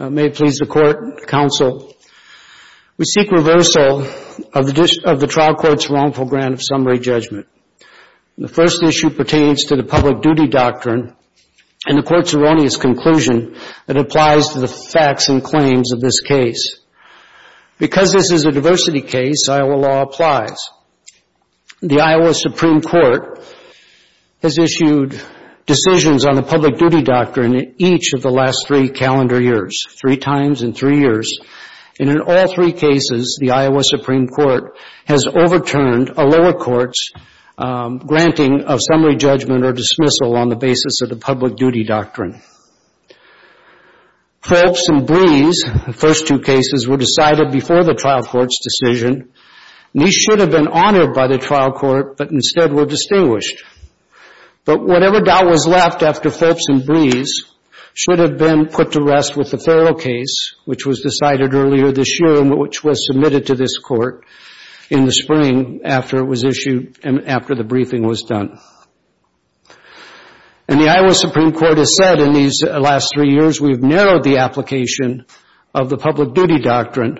We seek reversal of the trial court's wrongful grant of summary judgment. The first issue pertains to the Public Duty Doctrine and the court's erroneous conclusion that it applies to the facts and claims of this case. Because this is a diversity case, Iowa law applies. The Iowa Supreme Court has issued decisions on the Public Duty Doctrine in each of the last three calendar years, three times in three years, and in all three cases, the Iowa Supreme Court has overturned a lower court's granting of summary judgment or dismissal on the basis of the Public Duty Doctrine. Phelps and Breese, the first two cases, were decided before the trial court's decision. These should have been honored by the trial court, but instead were distinguished. But whatever doubt was left after Phelps and Breese should have been put to rest with the Farrell case, which was decided earlier this year and which was submitted to this court in the spring after it was issued and after the briefing was done. And the Iowa Supreme Court has said in these last three years we've narrowed the application of the Public Duty Doctrine,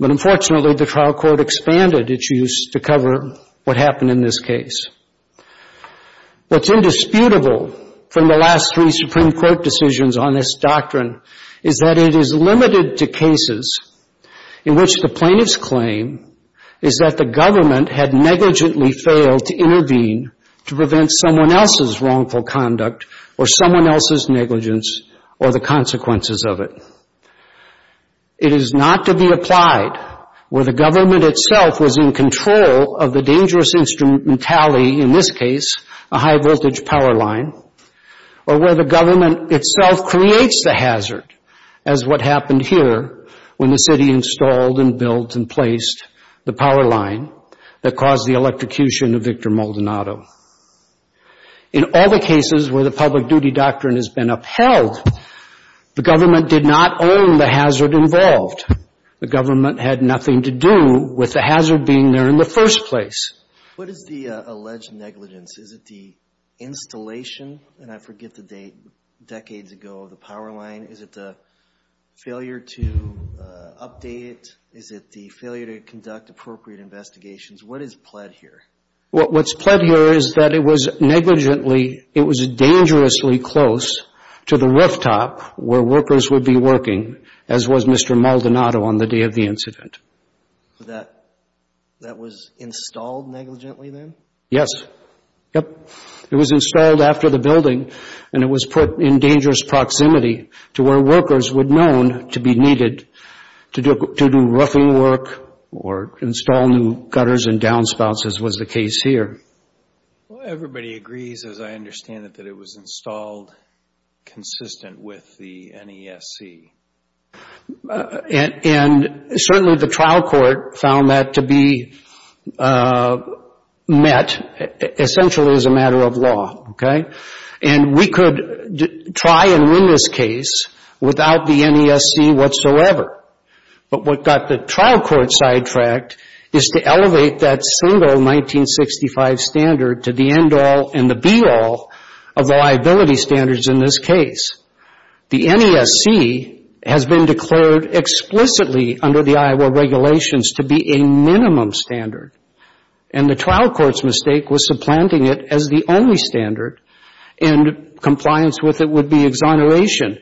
but unfortunately the trial court expanded its use to cover what happened in this case. What's indisputable from the last three Supreme Court decisions on this doctrine is that it is limited to cases in which the plaintiff's claim is that the government had negligently failed to intervene to prevent someone else's wrongful conduct or someone else's negligence or the consequences of it. It is not to be applied where the government itself was in control of the dangerous instrumentality, in this case, a high-voltage power line, or where the government itself creates the hazard as what happened here when the city installed and built and placed the power line that caused the electrocution of Victor Maldonado. In all the cases where the Public Duty Doctrine has been upheld, the government did not own the hazard involved. The government had nothing to do with the hazard being there in the first place. What is the alleged negligence? Is it the installation? And I forget the date. Decades ago, the power line. Is it the failure to update? Is it the failure to conduct appropriate investigations? What is pled here? What is pled here is that it was negligently, it was dangerously close to the rooftop where workers would be working, as was Mr. Maldonado on the day of the incident. That was installed negligently then? Yes. Yep. It was installed after the building, and it was put in dangerous proximity to where workers were known to be needed to do roughing work or install new gutters and downspouts, as was the case here. Well, everybody agrees, as I understand it, that it was installed consistent with the NESC. And certainly the trial court found that to be met essentially as a matter of law, okay? And we could try and win this case without the NESC whatsoever. But what got the trial court sidetracked is to elevate that single 1965 standard to the end-all and the be-all of the liability standards in this case. The NESC has been declared explicitly under the Iowa regulations to be a minimum standard, and the trial court's mistake was supplanting it as the only standard, and compliance with it would be exoneration.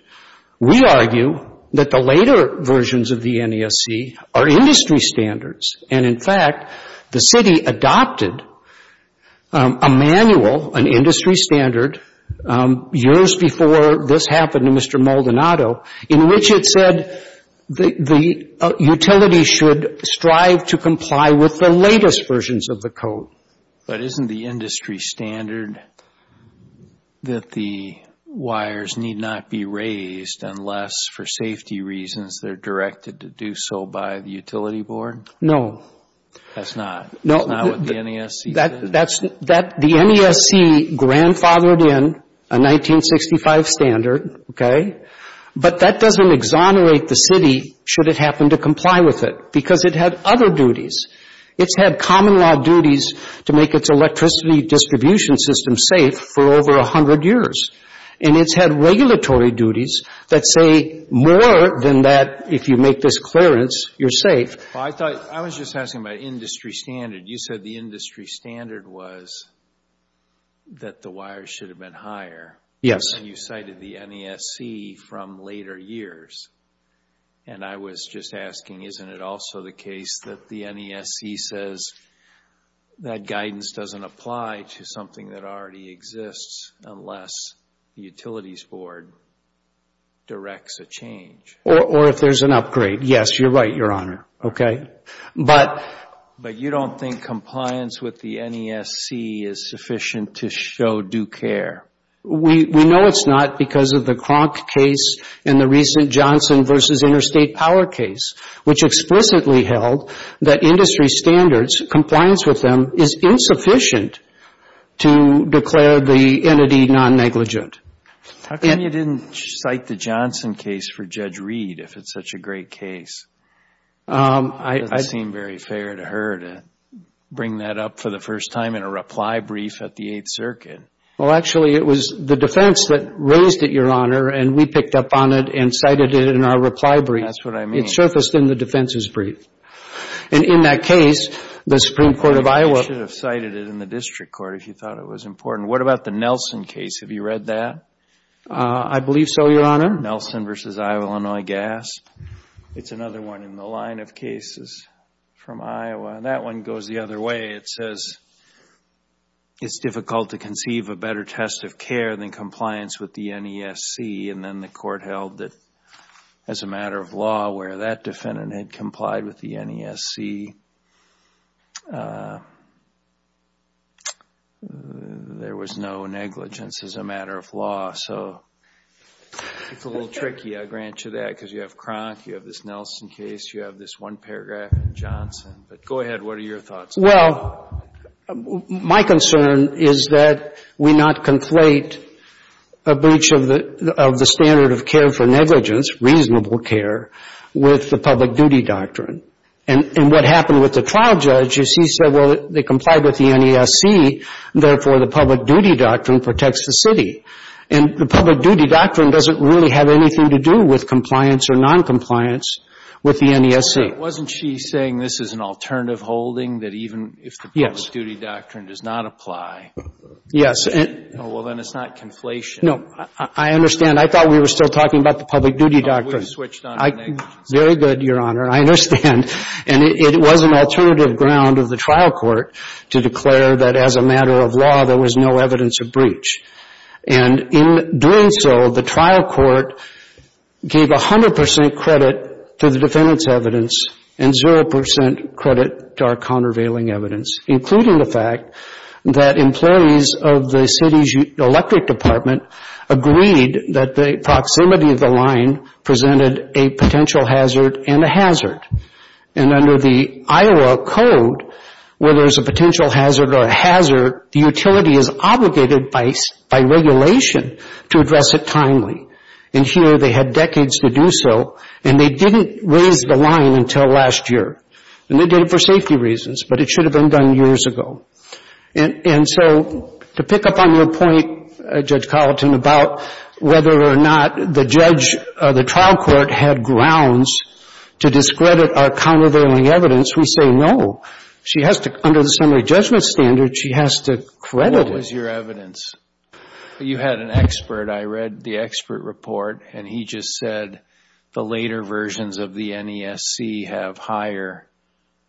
We argue that the later versions of the NESC are industry standards, and in fact, the city adopted a manual, an industry standard, years before this happened to Mr. Maldonado, in which it said the utility should strive to comply with the latest versions of the code. But isn't the industry standard that the wires need not be raised unless, for safety reasons, they're directed to do so by the utility board? No. That's not what the NESC said? The NESC grandfathered in a 1965 standard, okay? But that doesn't exonerate the city, should it happen to comply with it, because it had other duties. It's had common law duties to make its electricity distribution system safe for over 100 years. And it's had regulatory duties that say more than that, if you make this clearance, you're safe. I was just asking about industry standard. You said the industry standard was that the wires should have been higher. Yes. You cited the NESC from later years. And I was just asking, isn't it also the case that the NESC says that guidance doesn't apply to something that already exists unless the utilities board directs a change? Or if there's an upgrade. Yes, you're right, Your Honor. But you don't think compliance with the NESC is sufficient to show due care? We know it's not because of the Cronk case and the recent Johnson v. Interstate Power case, which explicitly held that industry standards, compliance with them, is insufficient to declare the entity non-negligent. How come you didn't cite the Johnson case for Judge Reed if it's such a great case? It doesn't seem very fair to her to bring that up for the first time in a reply brief at the Eighth Circuit. Well, actually, it was the defense that raised it, Your Honor, and we picked up on it and cited it in our reply brief. That's what I mean. It surfaced in the defense's brief. And in that case, the Supreme Court of Iowa – You should have cited it in the district court if you thought it was important. What about the Nelson case? Have you read that? I believe so, Your Honor. Nelson v. Iowa-Illinois Gasp. It's another one in the line of cases from Iowa. And that one goes the other way. It says it's difficult to conceive a better test of care than compliance with the NESC. And then the court held that as a matter of law, where that defendant had complied with the NESC, there was no negligence as a matter of law. So it's a little tricky, I'll grant you that, because you have Cronk, you have this Nelson case, you have this one paragraph in Johnson. But go ahead, what are your thoughts? Well, my concern is that we not conflate a breach of the standard of care for negligence, reasonable care, with the public duty doctrine. And what happened with the trial judge is he said, well, they complied with the NESC, therefore the public duty doctrine protects the city. And the public duty doctrine doesn't really have anything to do with compliance or noncompliance with the NESC. Wasn't she saying this is an alternative holding that even if the public duty doctrine does not apply? Yes. Oh, well, then it's not conflation. No. I understand. I thought we were still talking about the public duty doctrine. No, we've switched on to negligence. Very good, Your Honor. I understand. And it was an alternative ground of the trial court to declare that as a matter of law there was no evidence of breach. And in doing so, the trial court gave 100 percent credit to the defendant's evidence and zero percent credit to our countervailing evidence, including the fact that employees of the city's electric department agreed that the proximity of the line presented a potential hazard and a hazard. And under the Iowa Code, where there's a potential hazard or a hazard, the utility is obligated by regulation to address it timely. And here they had decades to do so, and they didn't raise the line until last year. And they did it for safety reasons, but it should have been done years ago. And so to pick up on your point, Judge Carlton, about whether or not the trial court had grounds to discredit our countervailing evidence, we say no. Under the summary judgment standard, she has to credit it. What was your evidence? You had an expert. I read the expert report, and he just said the later versions of the NESC have higher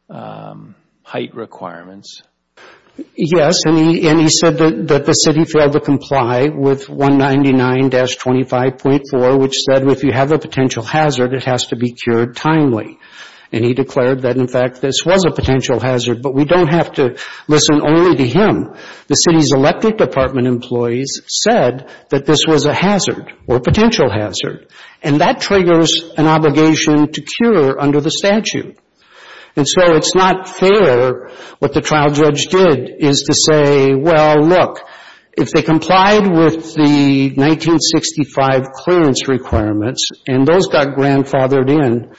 height requirements. Yes, and he said that the city failed to comply with 199-25.4, which said if you have a potential hazard, it has to be cured timely. And he declared that, in fact, this was a potential hazard, but we don't have to listen only to him. The city's electric department employees said that this was a hazard or a potential hazard, and that triggers an obligation to cure under the statute. And so it's not fair what the trial judge did is to say, well, look, if they complied with the 1965 clearance requirements and those got grandfathered in,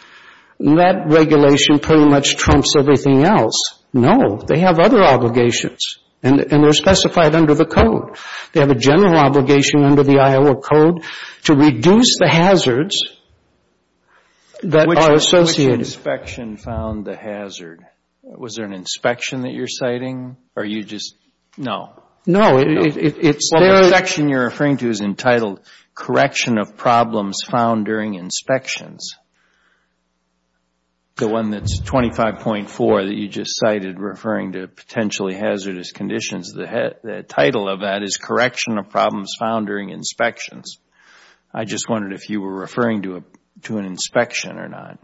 that regulation pretty much trumps everything else. No, they have other obligations, and they're specified under the code. They have a general obligation under the Iowa Code to reduce the hazards that are associated. Which inspection found the hazard? Was there an inspection that you're citing, or are you just no? No, it's there. Well, the section you're referring to is entitled, Correction of Problems Found During Inspections. The one that's 25.4 that you just cited referring to potentially hazardous conditions, the title of that is Correction of Problems Found During Inspections. I just wondered if you were referring to an inspection or not.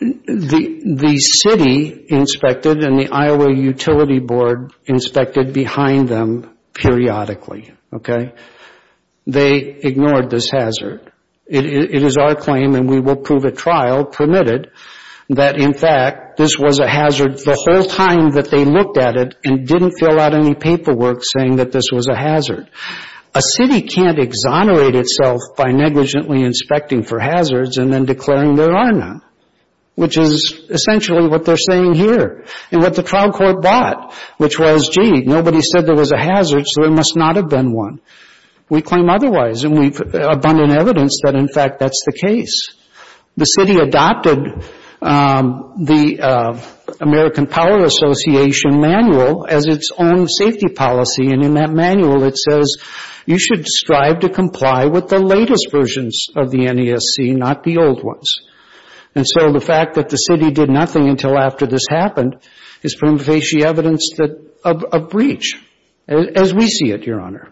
The city inspected, and the Iowa Utility Board inspected behind them periodically. They ignored this hazard. It is our claim, and we will prove at trial permitted, that in fact this was a hazard the whole time that they looked at it and didn't fill out any paperwork saying that this was a hazard. A city can't exonerate itself by negligently inspecting for hazards and then declaring there are none, which is essentially what they're saying here. And what the trial court bought, which was, Indeed, nobody said there was a hazard, so there must not have been one. We claim otherwise, and we have abundant evidence that, in fact, that's the case. The city adopted the American Power Association manual as its own safety policy, and in that manual it says you should strive to comply with the latest versions of the NESC, not the old ones. And so the fact that the city did nothing until after this happened is primitive evidence of breach, as we see it, Your Honor.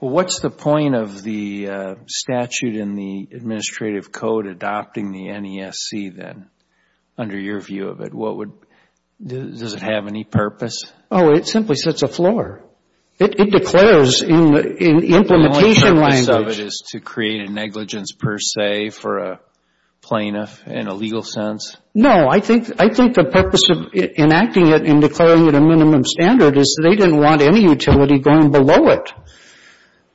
Well, what's the point of the statute in the administrative code adopting the NESC then, under your view of it? Does it have any purpose? Oh, it simply sets afloat. It declares in implementation language. The only purpose of it is to create a negligence per se for a plaintiff in a legal sense? No, I think the purpose of enacting it and declaring it a minimum standard is they didn't want any utility going below it,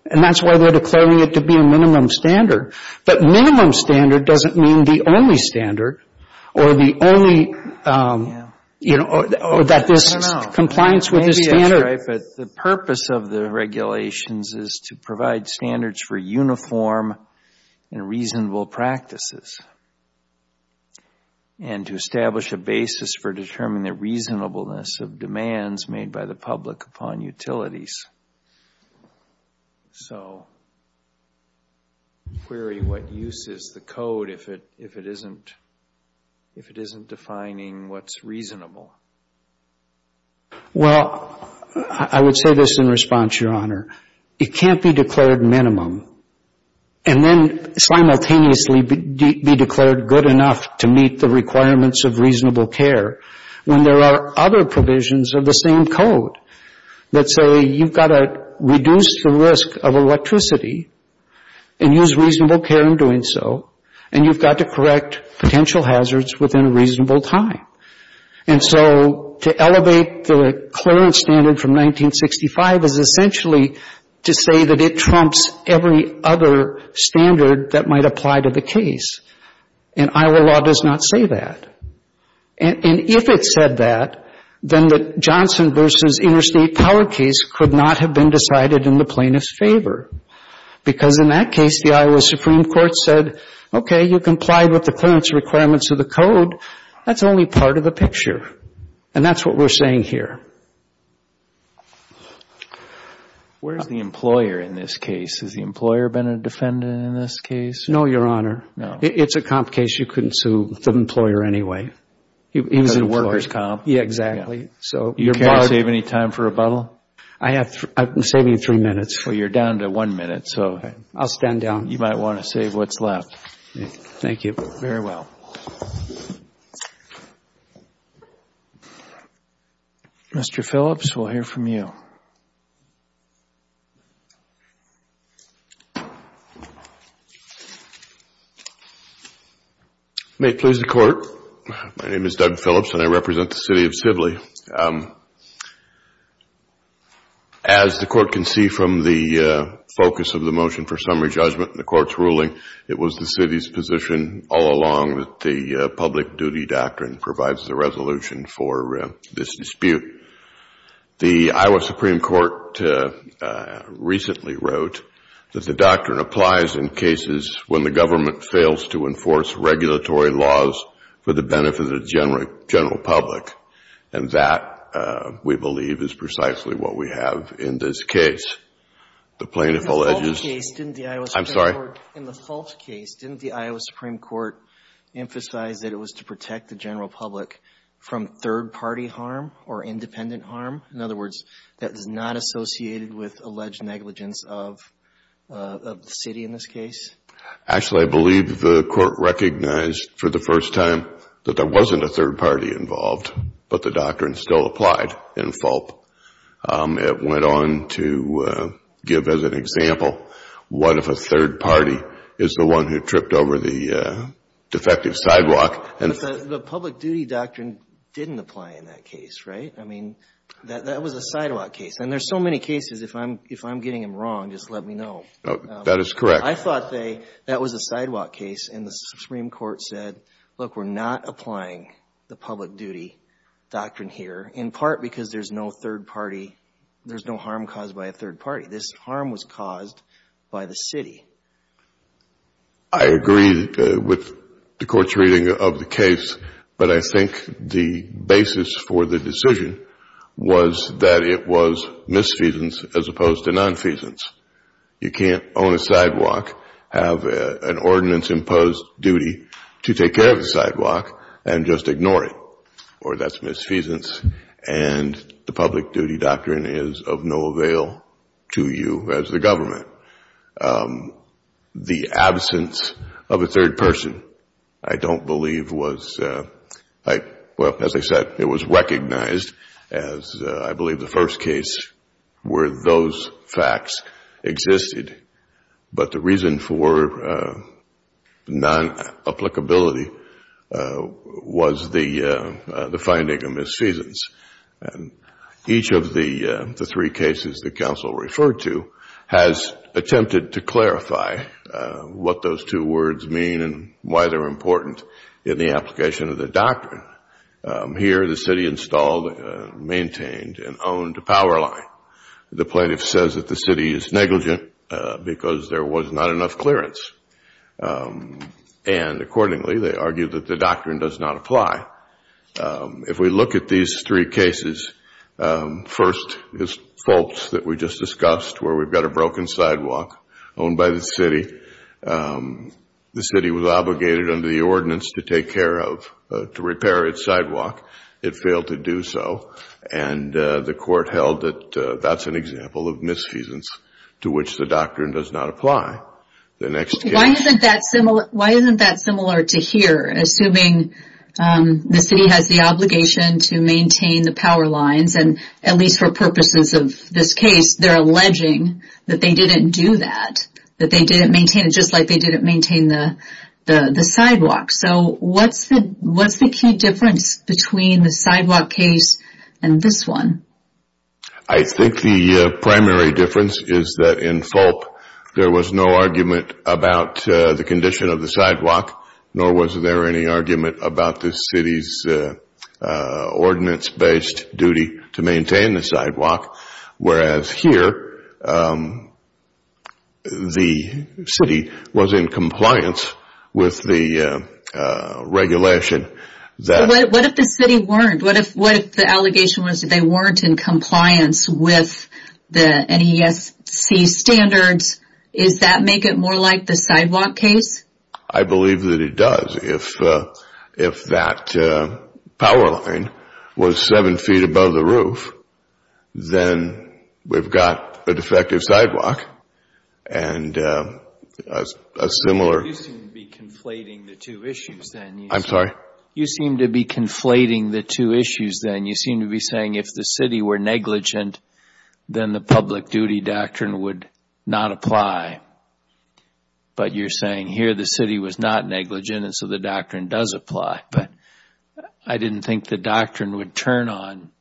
and that's why they're declaring it to be a minimum standard. But minimum standard doesn't mean the only standard or the only, you know, or that there's compliance with this standard. Maybe that's right, but the purpose of the regulations is to provide standards for uniform and reasonable practices and to establish a basis for determining the reasonableness of demands made by the public upon utilities. So, query, what use is the code if it isn't defining what's reasonable? Well, I would say this in response, Your Honor. It can't be declared minimum and then simultaneously be declared good enough to meet the requirements of reasonable care when there are other provisions of the same code that say you've got to reduce the risk of electricity and use reasonable care in doing so, and you've got to correct potential hazards within a reasonable time. And so to elevate the clearance standard from 1965 is essentially to say that it trumps every other standard that might apply to the case, and Iowa law does not say that. And if it said that, then the Johnson v. Interstate Power case could not have been decided in the plaintiff's favor because in that case the Iowa Supreme Court said, okay, you complied with the clearance requirements of the code. That's only part of the picture, and that's what we're saying here. Where's the employer in this case? Has the employer been a defendant in this case? No, Your Honor. No. It's a comp case. You couldn't sue the employer anyway. Because it's a workers' comp. Yeah, exactly. You can't save any time for rebuttal? I can save you three minutes. Well, you're down to one minute. I'll stand down. You might want to save what's left. Thank you. Very well. Mr. Phillips, we'll hear from you. May it please the Court. My name is Doug Phillips, and I represent the City of Sibley. As the Court can see from the focus of the motion for summary judgment and the Court's ruling, it was the City's position all along that the public duty doctrine provides the resolution for this dispute. The Iowa Supreme Court recently wrote that the doctrine applies in cases when the government fails to enforce regulatory laws for the benefit of the general public, and that, we believe, is precisely what we have in this case. In the Fulp case, didn't the Iowa Supreme Court emphasize that it was to protect the general public from third-party harm or independent harm? In other words, that is not associated with alleged negligence of the City in this case? Actually, I believe the Court recognized for the first time that there wasn't a It went on to give, as an example, what if a third party is the one who tripped over the defective sidewalk? The public duty doctrine didn't apply in that case, right? I mean, that was a sidewalk case. And there's so many cases, if I'm getting them wrong, just let me know. That is correct. I thought that was a sidewalk case, and the Supreme Court said, look, we're not There's no harm caused by a third party. This harm was caused by the City. I agree with the Court's reading of the case, but I think the basis for the decision was that it was misfeasance as opposed to nonfeasance. You can't own a sidewalk, have an ordinance-imposed duty to take care of the sidewalk, and just ignore it. Or that's misfeasance, and the public duty doctrine is of no avail to you as the government. The absence of a third person, I don't believe was, well, as I said, it was recognized as, I believe, the first case where those facts existed. But the reason for non-applicability was the finding of misfeasance. And each of the three cases that counsel referred to has attempted to clarify what those two words mean and why they're important in the application of the doctrine. Here, the City installed, maintained, and owned a power line. The plaintiff says that the City is negligent because there was not enough clearance. And accordingly, they argue that the doctrine does not apply. If we look at these three cases, first is Fultz that we just discussed where we've got a broken sidewalk owned by the City. The City was obligated under the ordinance to take care of, to repair its sidewalk. It failed to do so. And the court held that that's an example of misfeasance to which the doctrine does not apply. Why isn't that similar to here, assuming the City has the obligation to maintain the power lines, and at least for purposes of this case, they're alleging that they didn't do that, that they didn't maintain it just like they didn't maintain the sidewalk. So what's the key difference between the sidewalk case and this one? I think the primary difference is that in Fultz, there was no argument about the condition of the sidewalk, nor was there any argument about the City's ordinance-based duty to maintain the sidewalk. Whereas here, the City was in compliance with the regulation. What if the City weren't? What if the allegation was that they weren't in compliance with the NESC standards? Does that make it more like the sidewalk case? I believe that it does. If that power line was seven feet above the roof, then we've got a defective sidewalk and a similar. You seem to be conflating the two issues then. I'm sorry? You seem to be conflating the two issues then. You seem to be saying if the City were negligent, then the public duty doctrine would not apply. But you're saying here the City was not negligent and so the doctrine does apply. But I didn't think the doctrine would turn on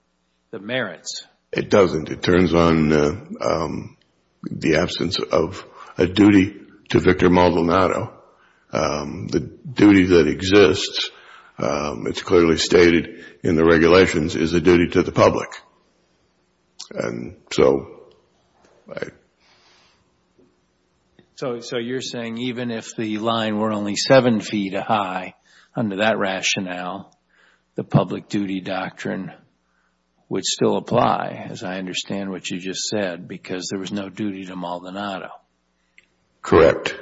the merits. It doesn't. It turns on the absence of a duty to Victor Maldonado. The duty that exists, it's clearly stated in the regulations, is a duty to the public. So you're saying even if the line were only seven feet high, under that rationale, the public duty doctrine would still apply, as I understand what you just said, because there was no duty to Maldonado. Correct.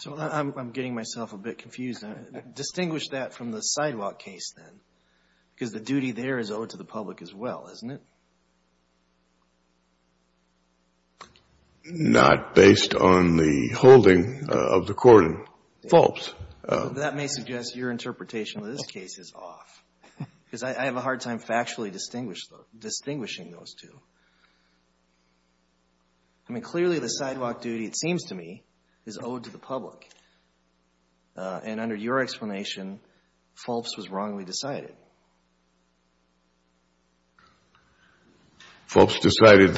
So I'm getting myself a bit confused. Distinguish that from the sidewalk case then, because the duty there is owed to the public as well, isn't it? Not based on the holding of the court. False. That may suggest your interpretation of this case is off, because I have a I mean, clearly the sidewalk duty, it seems to me, is owed to the public. And under your explanation, false was wrongly decided. False court decided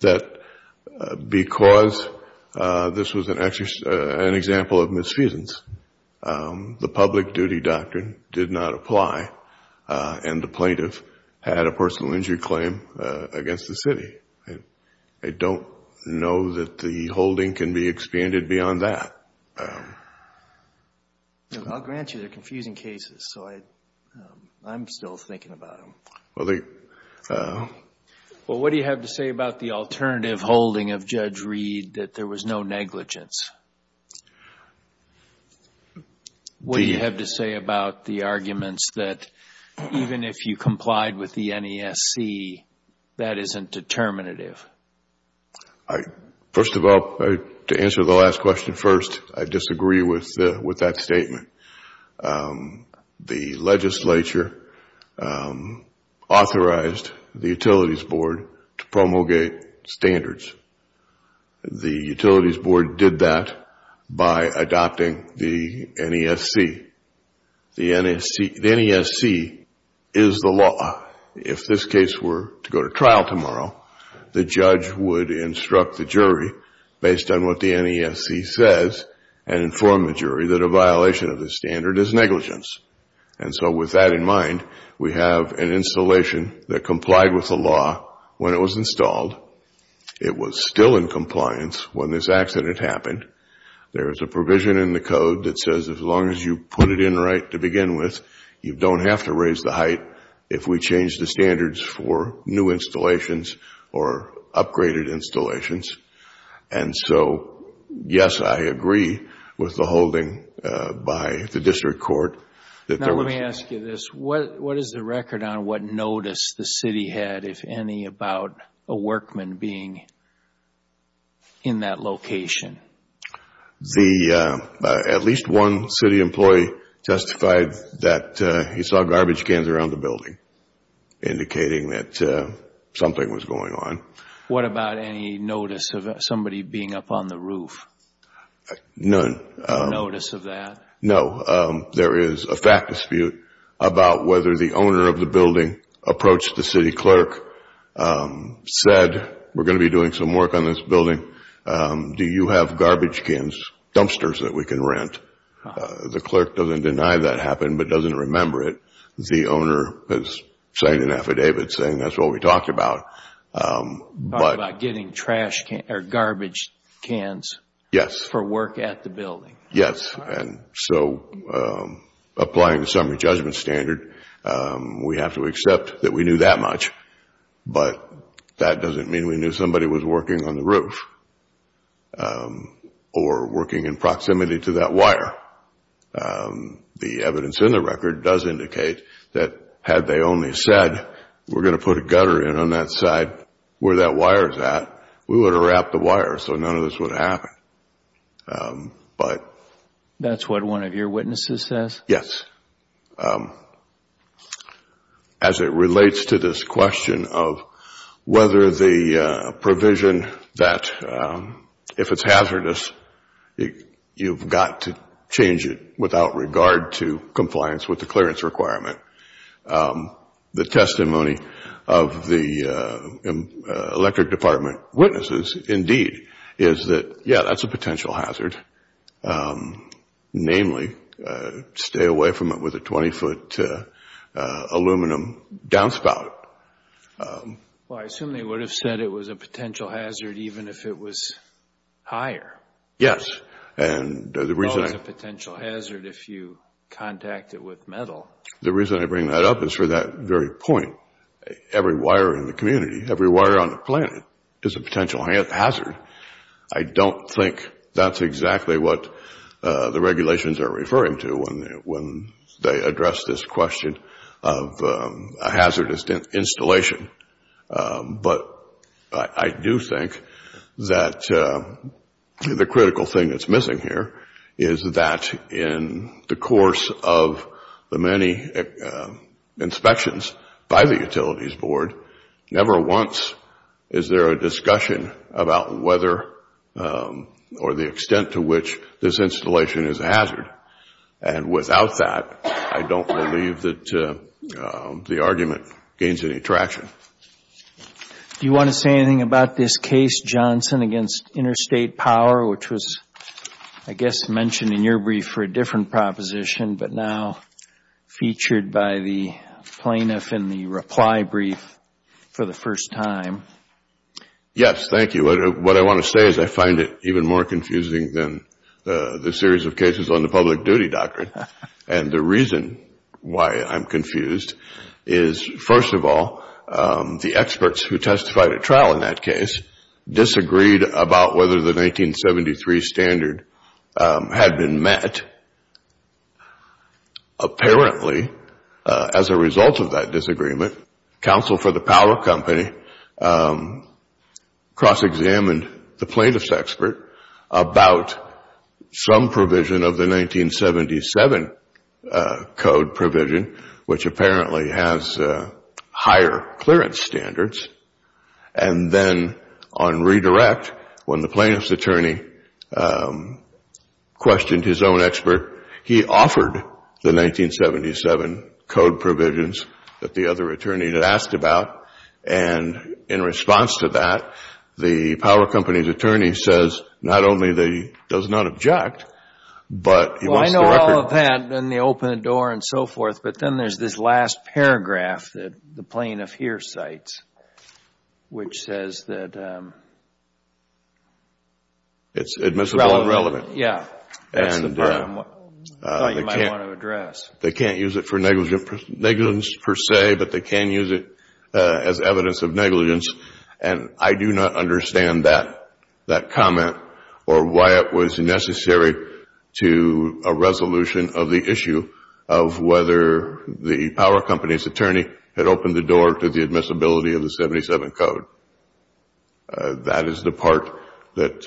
that because this was an example of misfeasance, the plaintiff had a personal injury claim against the city. I don't know that the holding can be expanded beyond that. I'll grant you they're confusing cases, so I'm still thinking about them. Well, what do you have to say about the alternative holding of Judge Reed, that there was no negligence? What do you have to say about the arguments that even if you complied with the NESC, that isn't determinative? First of all, to answer the last question first, I disagree with that statement. The legislature authorized the Utilities Board to promulgate standards. The Utilities Board did that by adopting the NESC. The NESC is the law. If this case were to go to trial tomorrow, the judge would instruct the jury, based on what the NESC says, and inform the jury that a violation of the standard is negligence. And so with that in mind, we have an installation that complied with the law when it was installed. It was still in compliance when this accident happened. There is a provision in the code that says as long as you put it in right to begin with, you don't have to raise the height if we change the standards for new installations or upgraded installations. And so, yes, I agree with the holding by the district court that there was... Now let me ask you this. What is the record on what notice the city had, if any, about a workman being in that location? At least one city employee testified that he saw garbage cans around the building, indicating that something was going on. What about any notice of somebody being up on the roof? None. No notice of that? No. There is a fact dispute about whether the owner of the building approached the city clerk, said, we're going to be doing some work on this building. Do you have garbage cans, dumpsters that we can rent? The clerk doesn't deny that happened but doesn't remember it. The owner has signed an affidavit saying that's what we talked about. Talking about getting garbage cans for work at the building? Yes, and so applying the summary judgment standard, we have to accept that we knew that much. But that doesn't mean we knew somebody was working on the roof or working in proximity to that wire. The evidence in the record does indicate that had they only said, we're going to put a gutter in on that side where that wire is at, we would have wrapped the wire so none of this would have happened. That's what one of your witnesses says? Yes. As it relates to this question of whether the provision that if it's hazardous, you've got to change it without regard to compliance with the clearance requirement. The testimony of the electric department witnesses, indeed, is that yes, that's a potential hazard. Namely, stay away from it with a 20-foot aluminum downspout. I assume they would have said it was a potential hazard even if it was higher. Yes. It's always a potential hazard if you contact it with metal. The reason I bring that up is for that very point. Every wire in the community, every wire on the planet is a potential hazard. I don't think that's exactly what the regulations are referring to when they address this question of a hazardous installation. But I do think that the critical thing that's missing here is that in the course of the many inspections by the Utilities Board, never once is there a discussion about whether or the extent to which this installation is a hazard. Without that, I don't believe that the argument gains any traction. Do you want to say anything about this case, Johnson, against interstate power, which was, I guess, mentioned in your brief for a different proposition but now featured by the plaintiff in the reply brief for the first time? Yes, thank you. What I want to say is I find it even more confusing than the series of cases on the public duty doctrine. The reason why I'm confused is, first of all, the experts who testified at trial in that case disagreed about whether the 1973 standard had been met. Apparently, as a result of that disagreement, counsel for the power company cross-examined the plaintiff's expert about some provision of the 1977 code provision, which apparently has higher clearance standards, and then on redirect, when the plaintiff's attorney questioned his own expert, he offered the 1977 code provisions that the other attorney had asked about, and in response to that, the power company's attorney says, not only does he not object, but he wants the record. Well, I know all of that and they open the door and so forth, but then there's this last paragraph that the plaintiff here cites, which says that It's admissible and relevant. Yeah, that's the part I thought you might want to address. They can't use it for negligence per se, but they can use it as evidence of negligence, and I do not understand that comment or why it was necessary to a resolution of the issue of whether the power company's attorney had opened the door to the admissibility of the 1977 code. That is the part that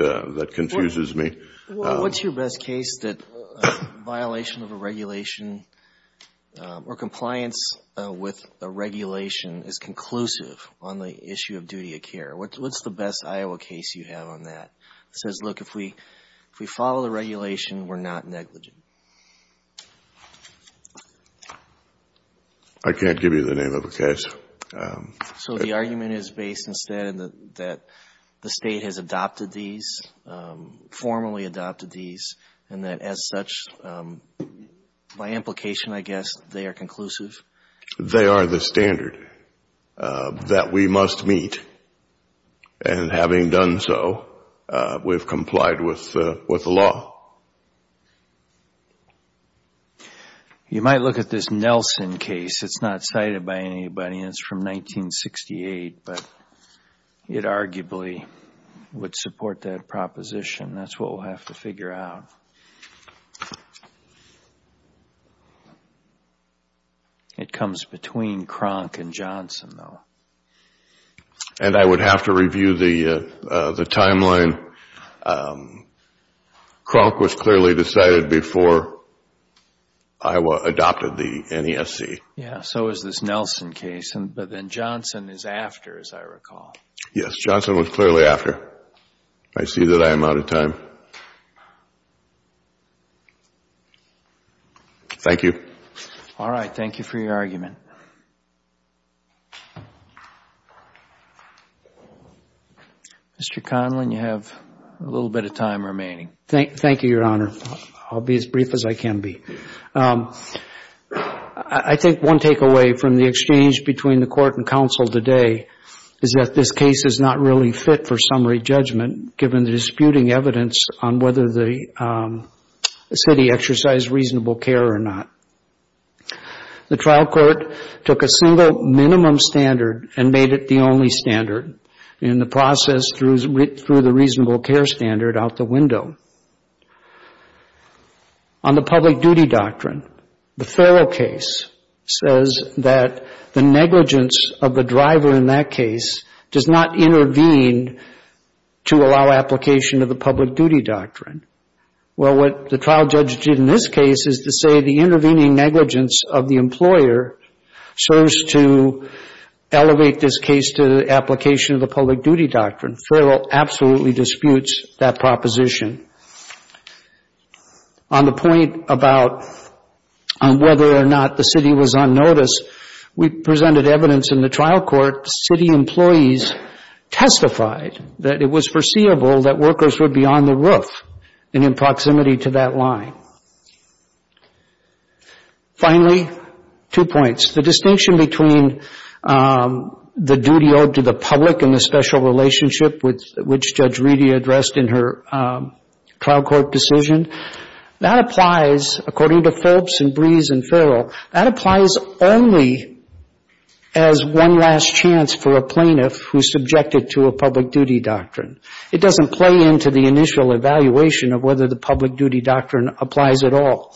confuses me. What's your best case that violation of a regulation or compliance with a regulation is conclusive on the issue of duty of care? What's the best Iowa case you have on that? It says, look, if we follow the regulation, we're not negligent. I can't give you the name of a case. So the argument is based instead that the State has adopted these, formally adopted these, and that as such, by implication, I guess, they are conclusive? They are the standard that we must meet, and having done so, we've complied with the law. You might look at this Nelson case. It's not cited by anybody, and it's from 1968, but it arguably would support that proposition. That's what we'll have to figure out. It comes between Kronk and Johnson, though. And I would have to review the timeline. Kronk was clearly decided before Iowa adopted the NESC. Yeah, so is this Nelson case, but then Johnson is after, as I recall. Yes, Johnson was clearly after. I see that I am out of time. Thank you. Thank you. All right. Thank you for your argument. Mr. Conlon, you have a little bit of time remaining. Thank you, Your Honor. I'll be as brief as I can be. I think one takeaway from the exchange between the Court and counsel today is that this case is not really fit for summary judgment, given the disputing evidence on whether the city exercised reasonable care or not. The trial court took a single minimum standard and made it the only standard in the process through the reasonable care standard out the window. On the public duty doctrine, the Farrell case says that the negligence of the driver in that case does not intervene to allow application of the public duty doctrine. Well, what the trial judge did in this case is to say the intervening negligence of the employer serves to elevate this case to the application of the public duty doctrine. Farrell absolutely disputes that proposition. On the point about whether or not the city was on notice, we presented evidence in the trial court. City employees testified that it was foreseeable that workers would be on the roof and in proximity to that line. Finally, two points. The distinction between the duty owed to the public and the special relationship, which Judge Reedy addressed in her trial court decision, that applies according to Phelps and Breese and Farrell, that applies only as one last chance for a plaintiff who's subjected to a public duty doctrine. It doesn't play into the initial evaluation of whether the public duty doctrine applies at all.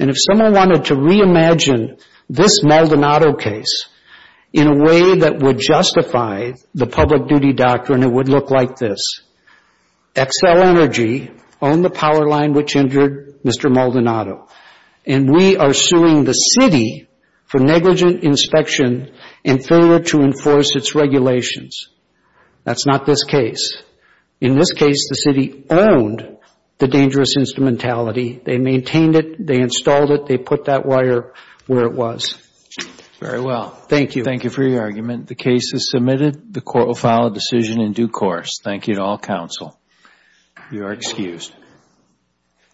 And if someone wanted to reimagine this Maldonado case in a way that would justify the public duty doctrine, it would look like this. Xcel Energy owned the power line which injured Mr. Maldonado, and we are suing the city for negligent inspection and failure to enforce its regulations. That's not this case. In this case, the city owned the dangerous instrumentality. They maintained it. They installed it. They put that wire where it was. Very well. Thank you. Thank you for your argument. The case is submitted. The court will file a decision in due course. Thank you to all counsel. You are excused.